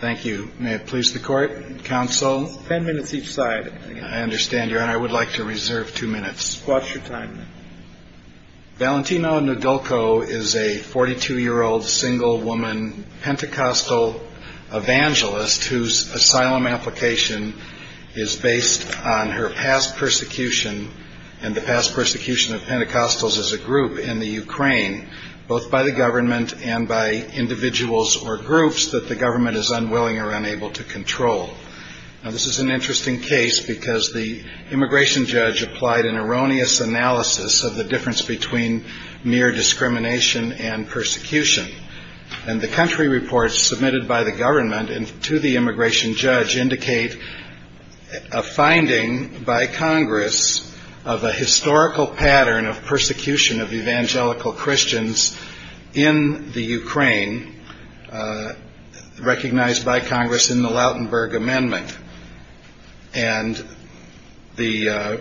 Thank you. May it please the court, counsel? Ten minutes each side. I understand, Your Honor. I would like to reserve two minutes. What's your time? Valentino Noudoulko is a 42-year-old single woman Pentecostal evangelist whose asylum application is based on her past persecution and the past persecution of Pentecostals as a group in the Ukraine. The court has found that the government is unwilling or unable to control. This is an interesting case because the immigration judge applied an erroneous analysis of the difference between mere discrimination and persecution. And the country reports submitted by the government to the immigration judge indicate a finding by Congress of a historical pattern of persecution of evangelical Christians in the Ukraine recognized by Congress in the Lautenberg Amendment. And the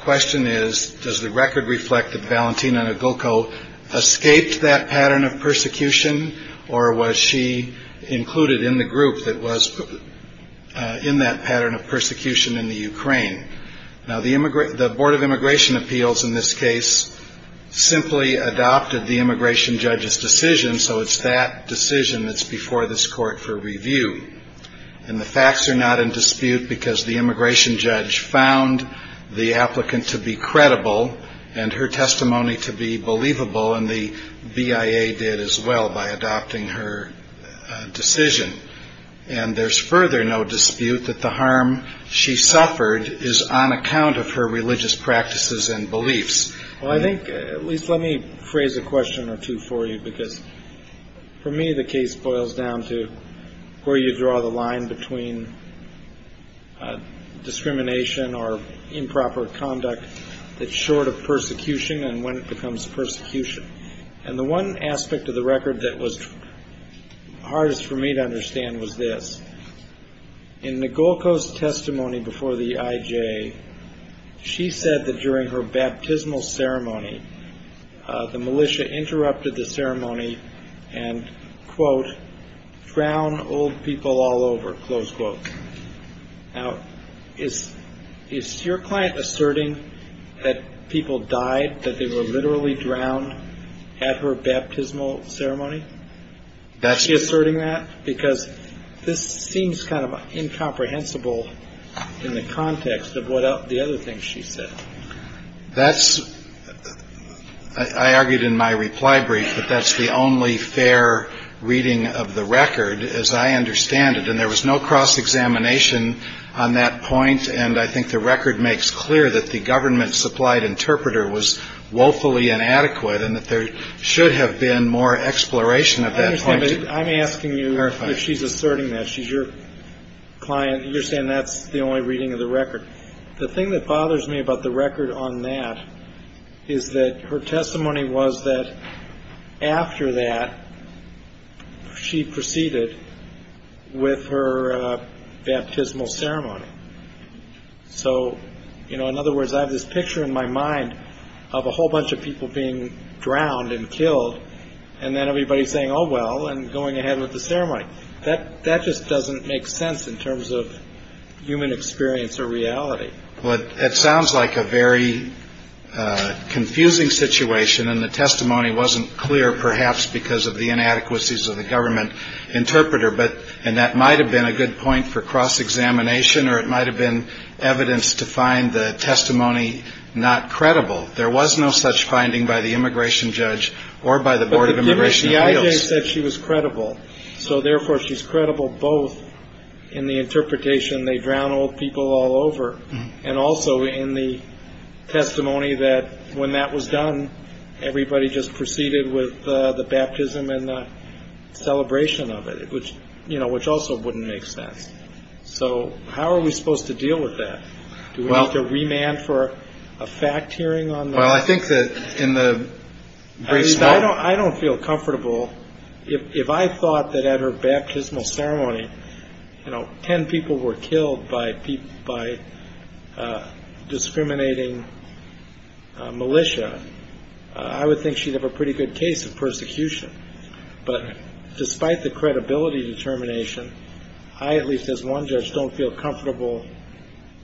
question is, does the record reflect that Valentino Noudoulko escaped that pattern of persecution, or was she included in the group that was in that pattern of persecution in the Ukraine? Now, the Board of Immigration Appeals in this case simply adopted the immigration judge's decision, so it's that decision that's before this court for review. And the facts are not in dispute because the immigration judge found the applicant to be credible and her testimony to be believable, and the BIA did as well by adopting her decision. And there's further no dispute that the harm she suffered is on account of her religious practices and beliefs. Well, I think, at least let me phrase a question or two for you because for me the case boils down to where you draw the line between discrimination or improper conduct that's short of persecution and when it becomes persecution. And the one aspect of the record that was hardest for me to understand was this. In Noudoulko's testimony before the IJ, she said that during her baptismal ceremony, the militia interrupted the ceremony and, quote, frowned old people all over, close quote. Now, is your client asserting that people died, that they were literally drowned at her baptismal ceremony? Is she asserting that? Because this seems kind of incomprehensible in the context of the other things she said. That's, I argued in my reply brief, that that's the only fair reading of the record as I understand it. And there was no cross-examination on that point. And I think the record makes clear that the government-supplied interpreter was woefully inadequate and that there should have been more exploration of that point. I'm asking you if she's asserting that. She's your client. You're saying that's the only reading of the record. The thing that bothers me about the record on that is that her testimony was that after that, she proceeded with her baptismal ceremony. So in other words, I have this picture in my mind of a whole bunch of people being drowned and killed, and then everybody's saying, oh, well, and going ahead with the ceremony. That just doesn't make sense in terms of human experience or reality. Well, it sounds like a very confusing situation. And the testimony wasn't clear, perhaps, because of the inadequacies of the government interpreter. And that might have been a good point for cross-examination, or it might have been evidence to find the testimony not credible. There was no such finding by the immigration judge or by the Board of Immigration Appeals. But the IJ said she was credible. So therefore, she's credible both in the interpretation, they drowned old people all over. And also in the testimony that when that was done, everybody just proceeded with the baptism and the celebration of it, which, you know, which also wouldn't make sense. So how are we supposed to deal with that? Do we have to remand for a fact hearing on? Well, I think that in the. I don't feel comfortable. If I thought that at her baptismal ceremony, you know, 10 people were killed by people by discriminating militia, I would think she'd have a pretty good case of persecution. But despite the credibility determination, I at least as one judge don't feel comfortable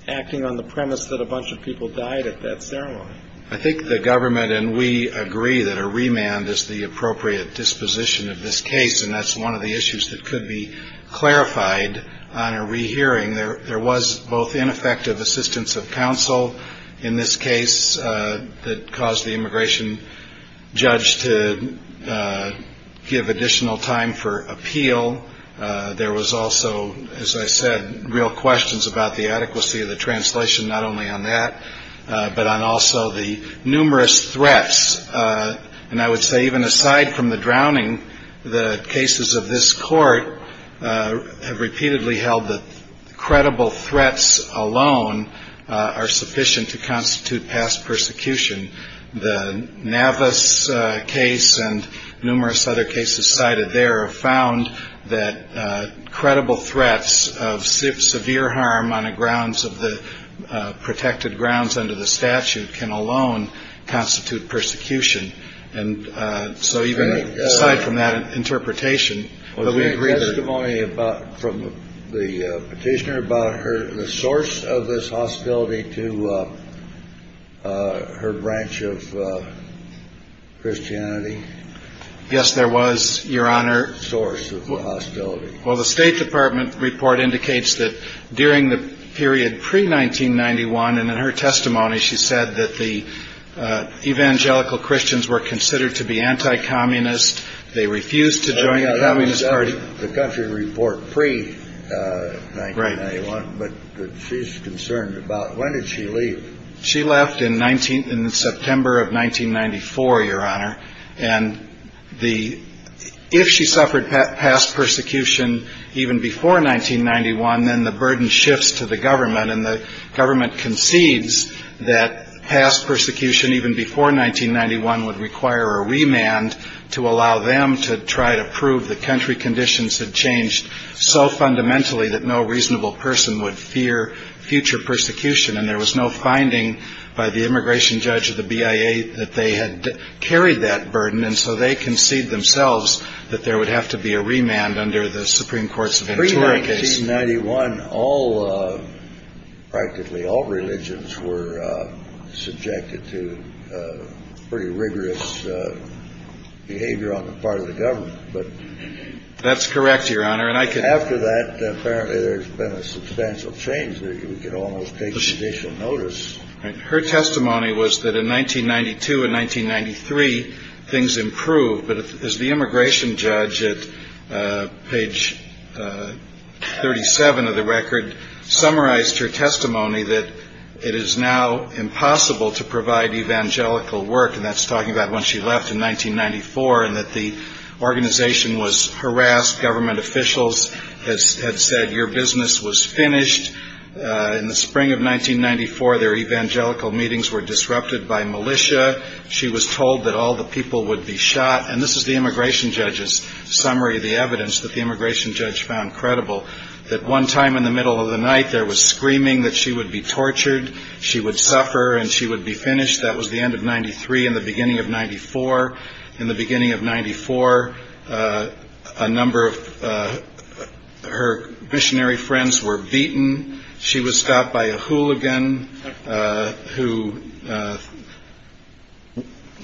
acting on the premise that a bunch of people died at that ceremony. I think the government and we agree that a remand is the appropriate disposition of this case. And that's one of the issues that could be clarified on a rehearing. There there was both ineffective assistance of counsel in this case that caused the immigration judge to give additional time for appeal. There was also, as I said, real questions about the adequacy of the translation, not only on that, but on also the numerous threats. And I would say even aside from the drowning, the cases of this court have repeatedly held that credible threats alone are sufficient to constitute past persecution. The Navas case and numerous other cases cited there have found that credible threats of severe harm on the grounds of the protected grounds under the statute can alone constitute persecution. And so even aside from that interpretation, we agree that only about from the petitioner about her, the source of this hospitality to. Well, her branch of Christianity. Yes, there was your honor source of hostility. Well, the State Department report indicates that during the period pre-1991 and in her testimony, she said that the evangelical Christians were considered to be anti-communist. They refused to join the Communist Party. The country report pre-1991, but she's concerned about when did she leave? She left in 19 in September of 1994, your honor. And the if she suffered past persecution even before 1991, then the burden shifts to the government and the government concedes that past persecution even before 1991 would require a remand to allow them to try to prove the country. Conditions had changed so fundamentally that no reasonable person would fear future persecution. And there was no finding by the immigration judge of the BIA that they had carried that burden. And so they concede themselves that there would have to be a remand under the Supreme Court. Ninety one. All of practically all religions were subjected to pretty rigorous behavior on the part of the government. But that's correct, your honor. And I can after that. Apparently there's been a substantial change. There you can almost take judicial notice. Her testimony was that in 1992 and 1993, things improved. But as the immigration judge at page 37 of the record summarized her testimony, that it is now impossible to provide evangelical work. And that's talking about when she left in 1994 and that the organization was harassed. Government officials had said your business was finished in the spring of 1994. Their evangelical meetings were disrupted by militia. She was told that all the people would be shot. And this is the immigration judge's summary of the evidence that the immigration judge found credible. That one time in the middle of the night there was screaming that she would be tortured. She would suffer and she would be finished. That was the end of 93. In the beginning of 94, in the beginning of 94, a number of her missionary friends were beaten. She was stopped by a hooligan who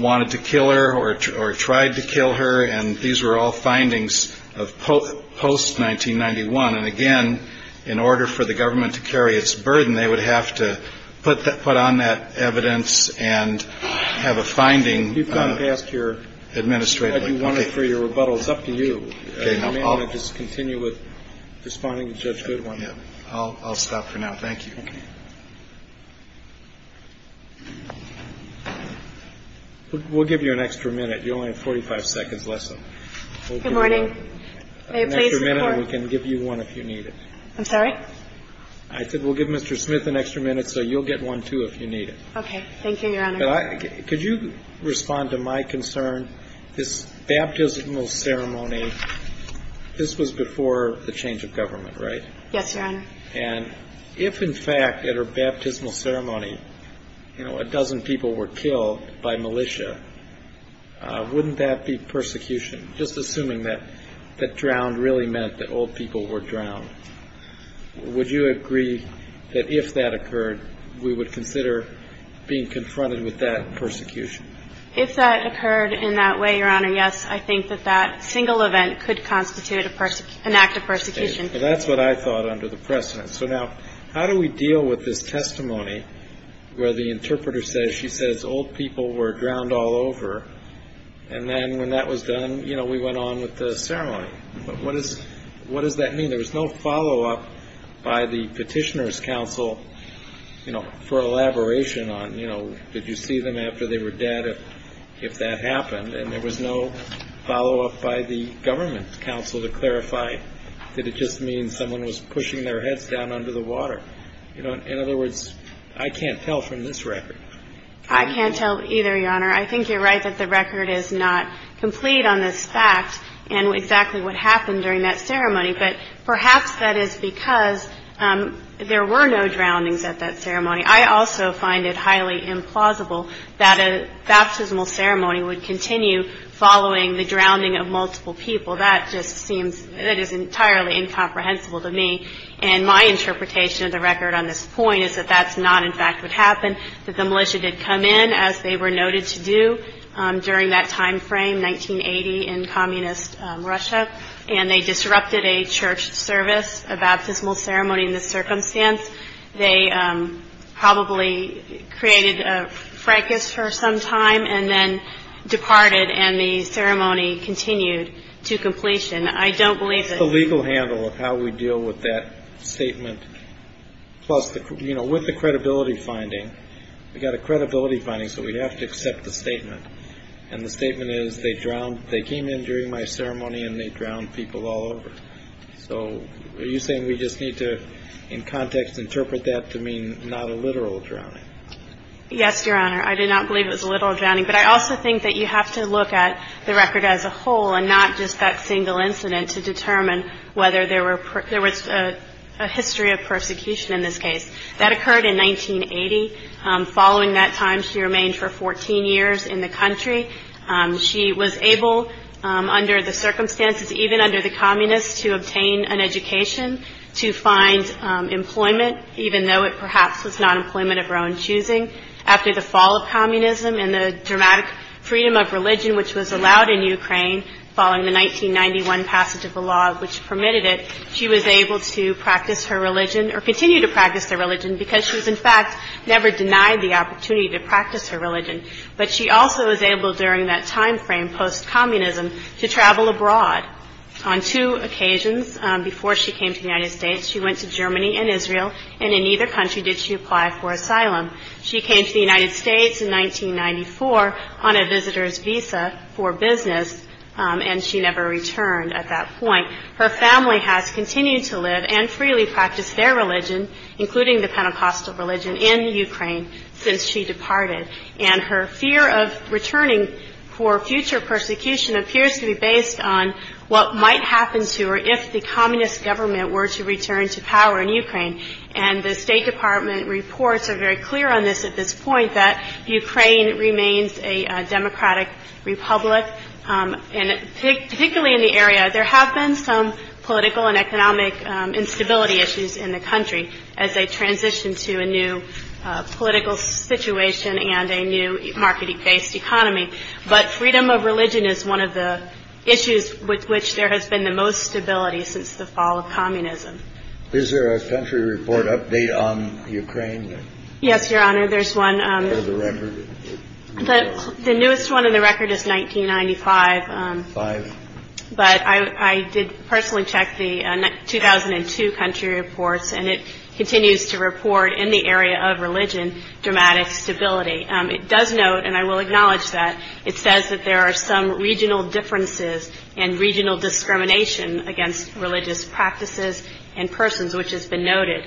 wanted to kill her or or tried to kill her. And these were all findings of post post 1991. And again, in order for the government to carry its burden, they would have to put that put on that evidence and have a finding. You've got to ask your administrator if you want it for your rebuttal. It's up to you. I'll just continue with this finding. Judge, good one. I'll stop for now. Thank you. We'll give you an extra minute. You only have 45 seconds left. So good morning. I can give you one if you need it. I'm sorry. I said we'll give Mr. Smith an extra minute. So you'll get one, too, if you need it. OK, thank you. Could you respond to my concern? This baptismal ceremony. This was before the change of government, right? Yes, Your Honor. And if, in fact, at her baptismal ceremony, you know, a dozen people were killed by militia, wouldn't that be persecution? Just assuming that that drowned really meant that old people were drowned. Would you agree that if that occurred, we would consider being confronted with that persecution? If that occurred in that way, Your Honor, yes, I think that that single event could constitute an act of persecution. Well, that's what I thought under the precedent. So now, how do we deal with this testimony where the interpreter says she says old people were drowned all over? And then when that was done, you know, we went on with the ceremony. But what is what does that mean? There was no follow up by the petitioners council, you know, for elaboration on, you know, did you see them after they were if that happened and there was no follow up by the government council to clarify that it just means someone was pushing their heads down under the water. You know, in other words, I can't tell from this record. I can't tell either, Your Honor. I think you're right that the record is not complete on this fact and exactly what happened during that ceremony. But perhaps that is because there were no drownings at that ceremony. I also find it highly implausible that a baptismal ceremony would continue following the drowning of multiple people. That just seems that is entirely incomprehensible to me. And my interpretation of the record on this point is that that's not, in fact, what happened, that the militia did come in as they were noted to do during that time frame, 1980, in communist Russia. And they disrupted a church service, a baptismal ceremony in this circumstance. They probably created a fracas for some time and then departed. And the ceremony continued to completion. I don't believe the legal handle of how we deal with that statement. Plus, you know, with the credibility finding, we got a credibility finding. So we have to accept the statement. And the statement is they drowned. They came in during my ceremony and they drowned people all over. So are you saying we just need to, in context, interpret that to mean not a literal drowning? Yes, Your Honor. I did not believe it was a literal drowning. But I also think that you have to look at the record as a whole and not just that single incident to determine whether there was a history of persecution in this case. That occurred in 1980. Following that time, she remained for 14 years in the country. She was able, under the circumstances, even under the communists, to obtain an education, to find employment, even though it perhaps was not employment of her own choosing. After the fall of communism and the dramatic freedom of religion which was allowed in Ukraine following the 1991 passage of the law which permitted it, she was able to practice her religion or continue to practice their religion because she was, in fact, never denied the opportunity to practice her religion. But she also was able, during that time frame post-communism, to travel abroad on two occasions. Before she came to the United States, she went to Germany and Israel, and in neither country did she apply for asylum. She came to the United States in 1994 on a visitor's visa for business, and she never returned at that point. Her family has continued to live and freely practice their religion, including the Pentecostal religion, in Ukraine since she departed. And her fear of returning for future persecution appears to be based on what might happen to her if the communist government were to return to power in Ukraine. And the State Department reports are very clear on this at this point, that Ukraine remains a democratic republic. And particularly in the area, there have been some political and economic instability issues in the country as they transition to a new political situation and a new marketing-based economy. But freedom of religion is one of the issues with which there has been the most stability since the fall of communism. Is there a country report update on Ukraine? Yes, Your Honor. There's one. The record. The newest one in the record is 1995, but I did personally check the 2002 country reports, and it continues to report in the area of religion dramatic stability. It does note, and I will acknowledge that it says that there are some regional differences and regional discrimination against religious practices and persons, which has been noted,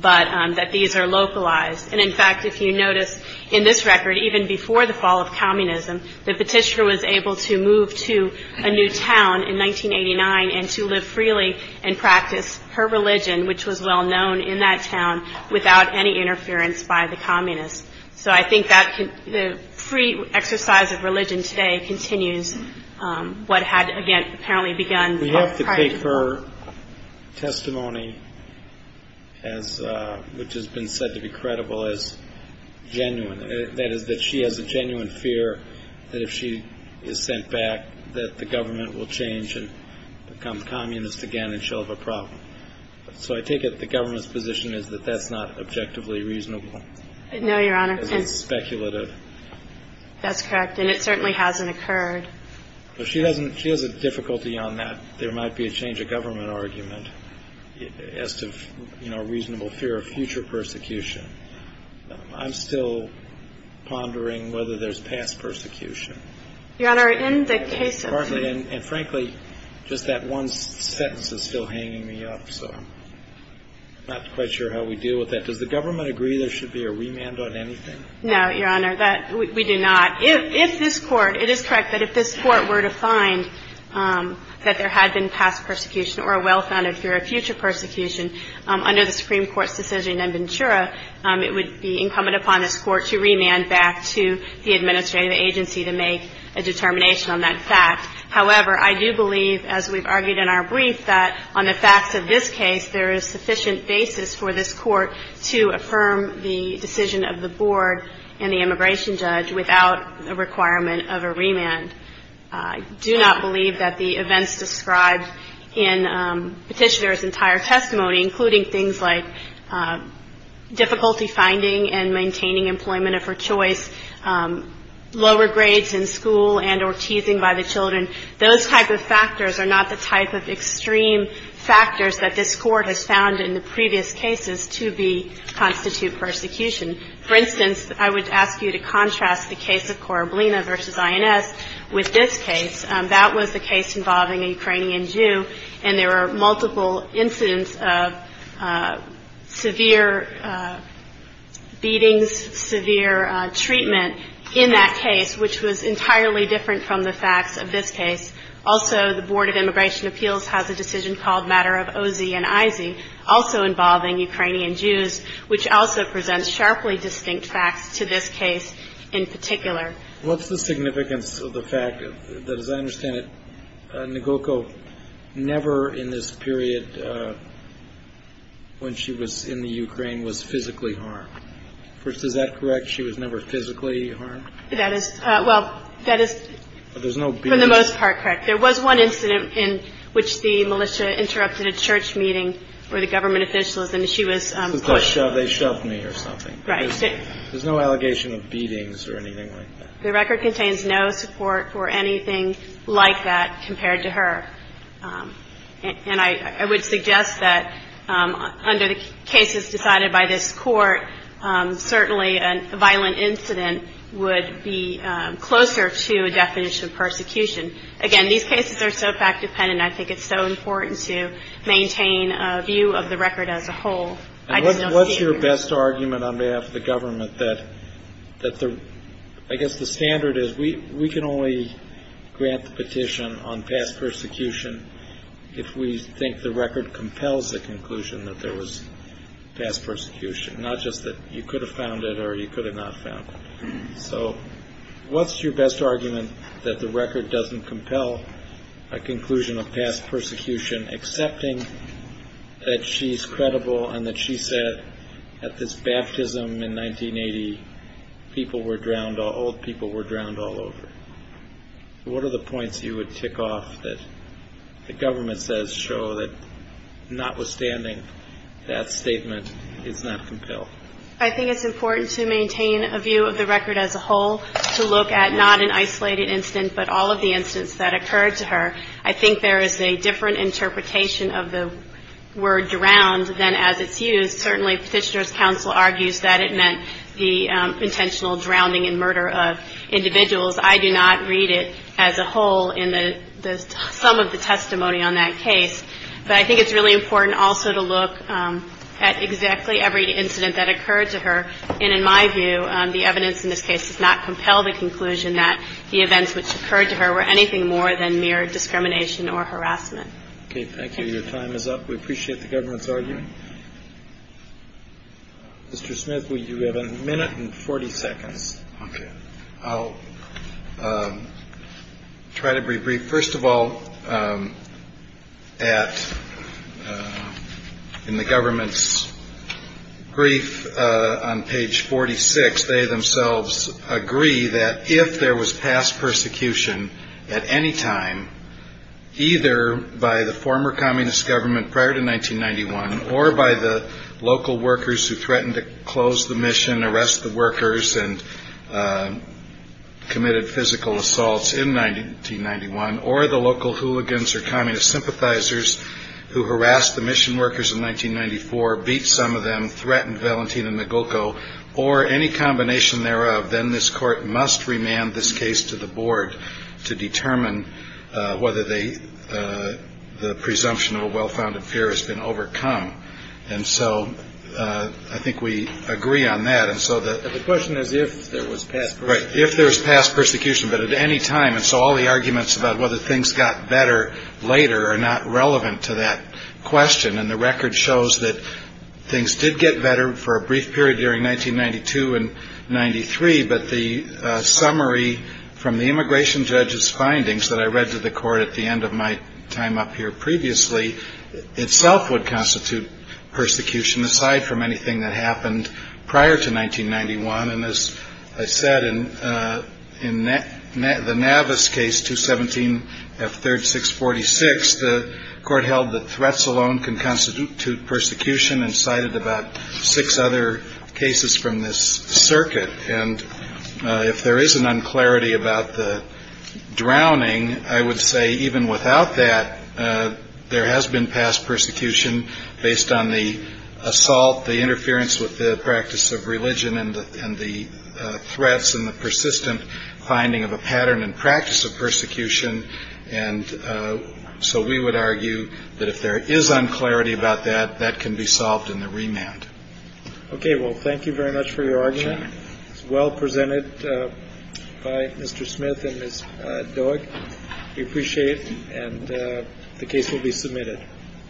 but that these are localized. And in fact, if you notice in this record, even before the fall of communism, the petitioner was able to move to a new town in 1989 and to live freely and practice her religion, which was well known in that town, without any interference by the communists. So I think that the free exercise of religion today continues what had, again, apparently begun. We have to take her testimony, which has been said to be credible, as genuine. That is that she has a genuine fear that if she is sent back, that the government will change and become communist again and she'll have a problem. So I take it the government's position is that that's not objectively reasonable. No, Your Honor. It's speculative. That's correct. And it certainly hasn't occurred. If she doesn't, she has a difficulty on that. There might be a change of government argument as to, you know, a reasonable fear of future persecution. I'm still pondering whether there's past persecution. Your Honor, in the case of. And frankly, just that one sentence is still hanging me up. So I'm not quite sure how we deal with that. Does the government agree there should be a remand on anything? No, Your Honor, that we do not. If this court, it is correct that if this court were to find that there had been past persecution or a well-founded fear of future persecution under the Supreme Court's decision in Ventura, it would be incumbent upon this court to remand back to the administrative agency to make a determination on that fact. Without a requirement of a remand, I do not believe that the events described in Petitioner's entire testimony, including things like difficulty finding and maintaining employment of her choice, lower grades in school and or teasing by the children. Those type of factors are not the type of extreme factors that this court has found in the previous cases to be constitute persecution. For instance, I would ask you to contrast the case of Korablina versus INS with this case. That was the case involving a Ukrainian Jew. And there were multiple incidents of severe beatings, severe treatment in that case, which was entirely different from the facts of this case. Also, the Board of Immigration Appeals has a decision called Matter of Ozzy and Izzy, also involving Ukrainian Jews, which also presents sharply distinct facts to this case in particular. What's the significance of the fact that, as I understand it, Nagoko never in this period, when she was in the Ukraine, was physically harmed? First, is that correct? She was never physically harmed? That is, well, that is for the most part correct. There was one incident in which the militia interrupted a church meeting where the government officials and she was pushed. They shoved me or something. Right. There's no allegation of beatings or anything like that. The record contains no support for anything like that compared to her. And I would suggest that under the cases decided by this Court, certainly a violent incident would be closer to a definition of persecution. Again, these cases are so fact-dependent, I think it's so important to maintain a view of the record as a whole. I just don't see it. And on behalf of the government, that I guess the standard is we can only grant the petition on past persecution if we think the record compels the conclusion that there was past persecution, not just that you could have found it or you could have not found it. So what's your best argument that the record doesn't compel a conclusion of past persecution, accepting that she's credible and that she said at this baptism in 1980, people were drowned, old people were drowned all over? What are the points you would tick off that the government says show that notwithstanding that statement, it's not compelled? I think it's important to maintain a view of the record as a whole, to look at not an isolated incident, but all of the incidents that occurred to her. I think there is a different interpretation of the word drowned than as it's used. Certainly Petitioner's counsel argues that it meant the intentional drowning and murder of individuals. I do not read it as a whole in the sum of the testimony on that case. But I think it's really important also to look at exactly every incident that occurred to her. And in my view, the evidence in this case does not compel the conclusion that the events which occurred to her were anything more than mere discrimination or harassment. OK, thank you. Your time is up. We appreciate the government's argument. Mr. Smith, we do have a minute and 40 seconds. OK, I'll try to be brief. First of all, at in the government's brief on page 46, they themselves agree that if there was past persecution at any time, either by the former communist government prior to 1991 or by the local workers who threatened to close the mission, and arrest the workers and committed physical assaults in 1991, or the local hooligans or communist sympathizers who harassed the mission workers in 1994, beat some of them, threatened Valentina Magoco, or any combination thereof, then this court must remand this case to the board to determine whether the presumption of a well-founded fear has been overcome. And so I think we agree on that. And so the question is, if there was past right, if there was past persecution, but at any time. And so all the arguments about whether things got better later are not relevant to that question. And the record shows that things did get better for a brief period during 1992 and 93. But the summary from the immigration judge's findings that I read to the court at the end of my time up here previously, itself would constitute persecution aside from anything that happened prior to 1991. And as I said, in the Navis case, 217 F 3rd 646, the court held that threats alone can constitute persecution and cited about six other cases from this circuit. And if there is an unclarity about the drowning, I would say even without that, there has been past persecution based on the assault, the interference with the practice of religion and the threats and the persistent finding of a pattern and practice of persecution. And so we would argue that if there is unclarity about that, that can be solved in the remand. OK, well, thank you very much for your argument. Well, presented by Mr. Smith and his dog. Appreciate it. And the case will be submitted.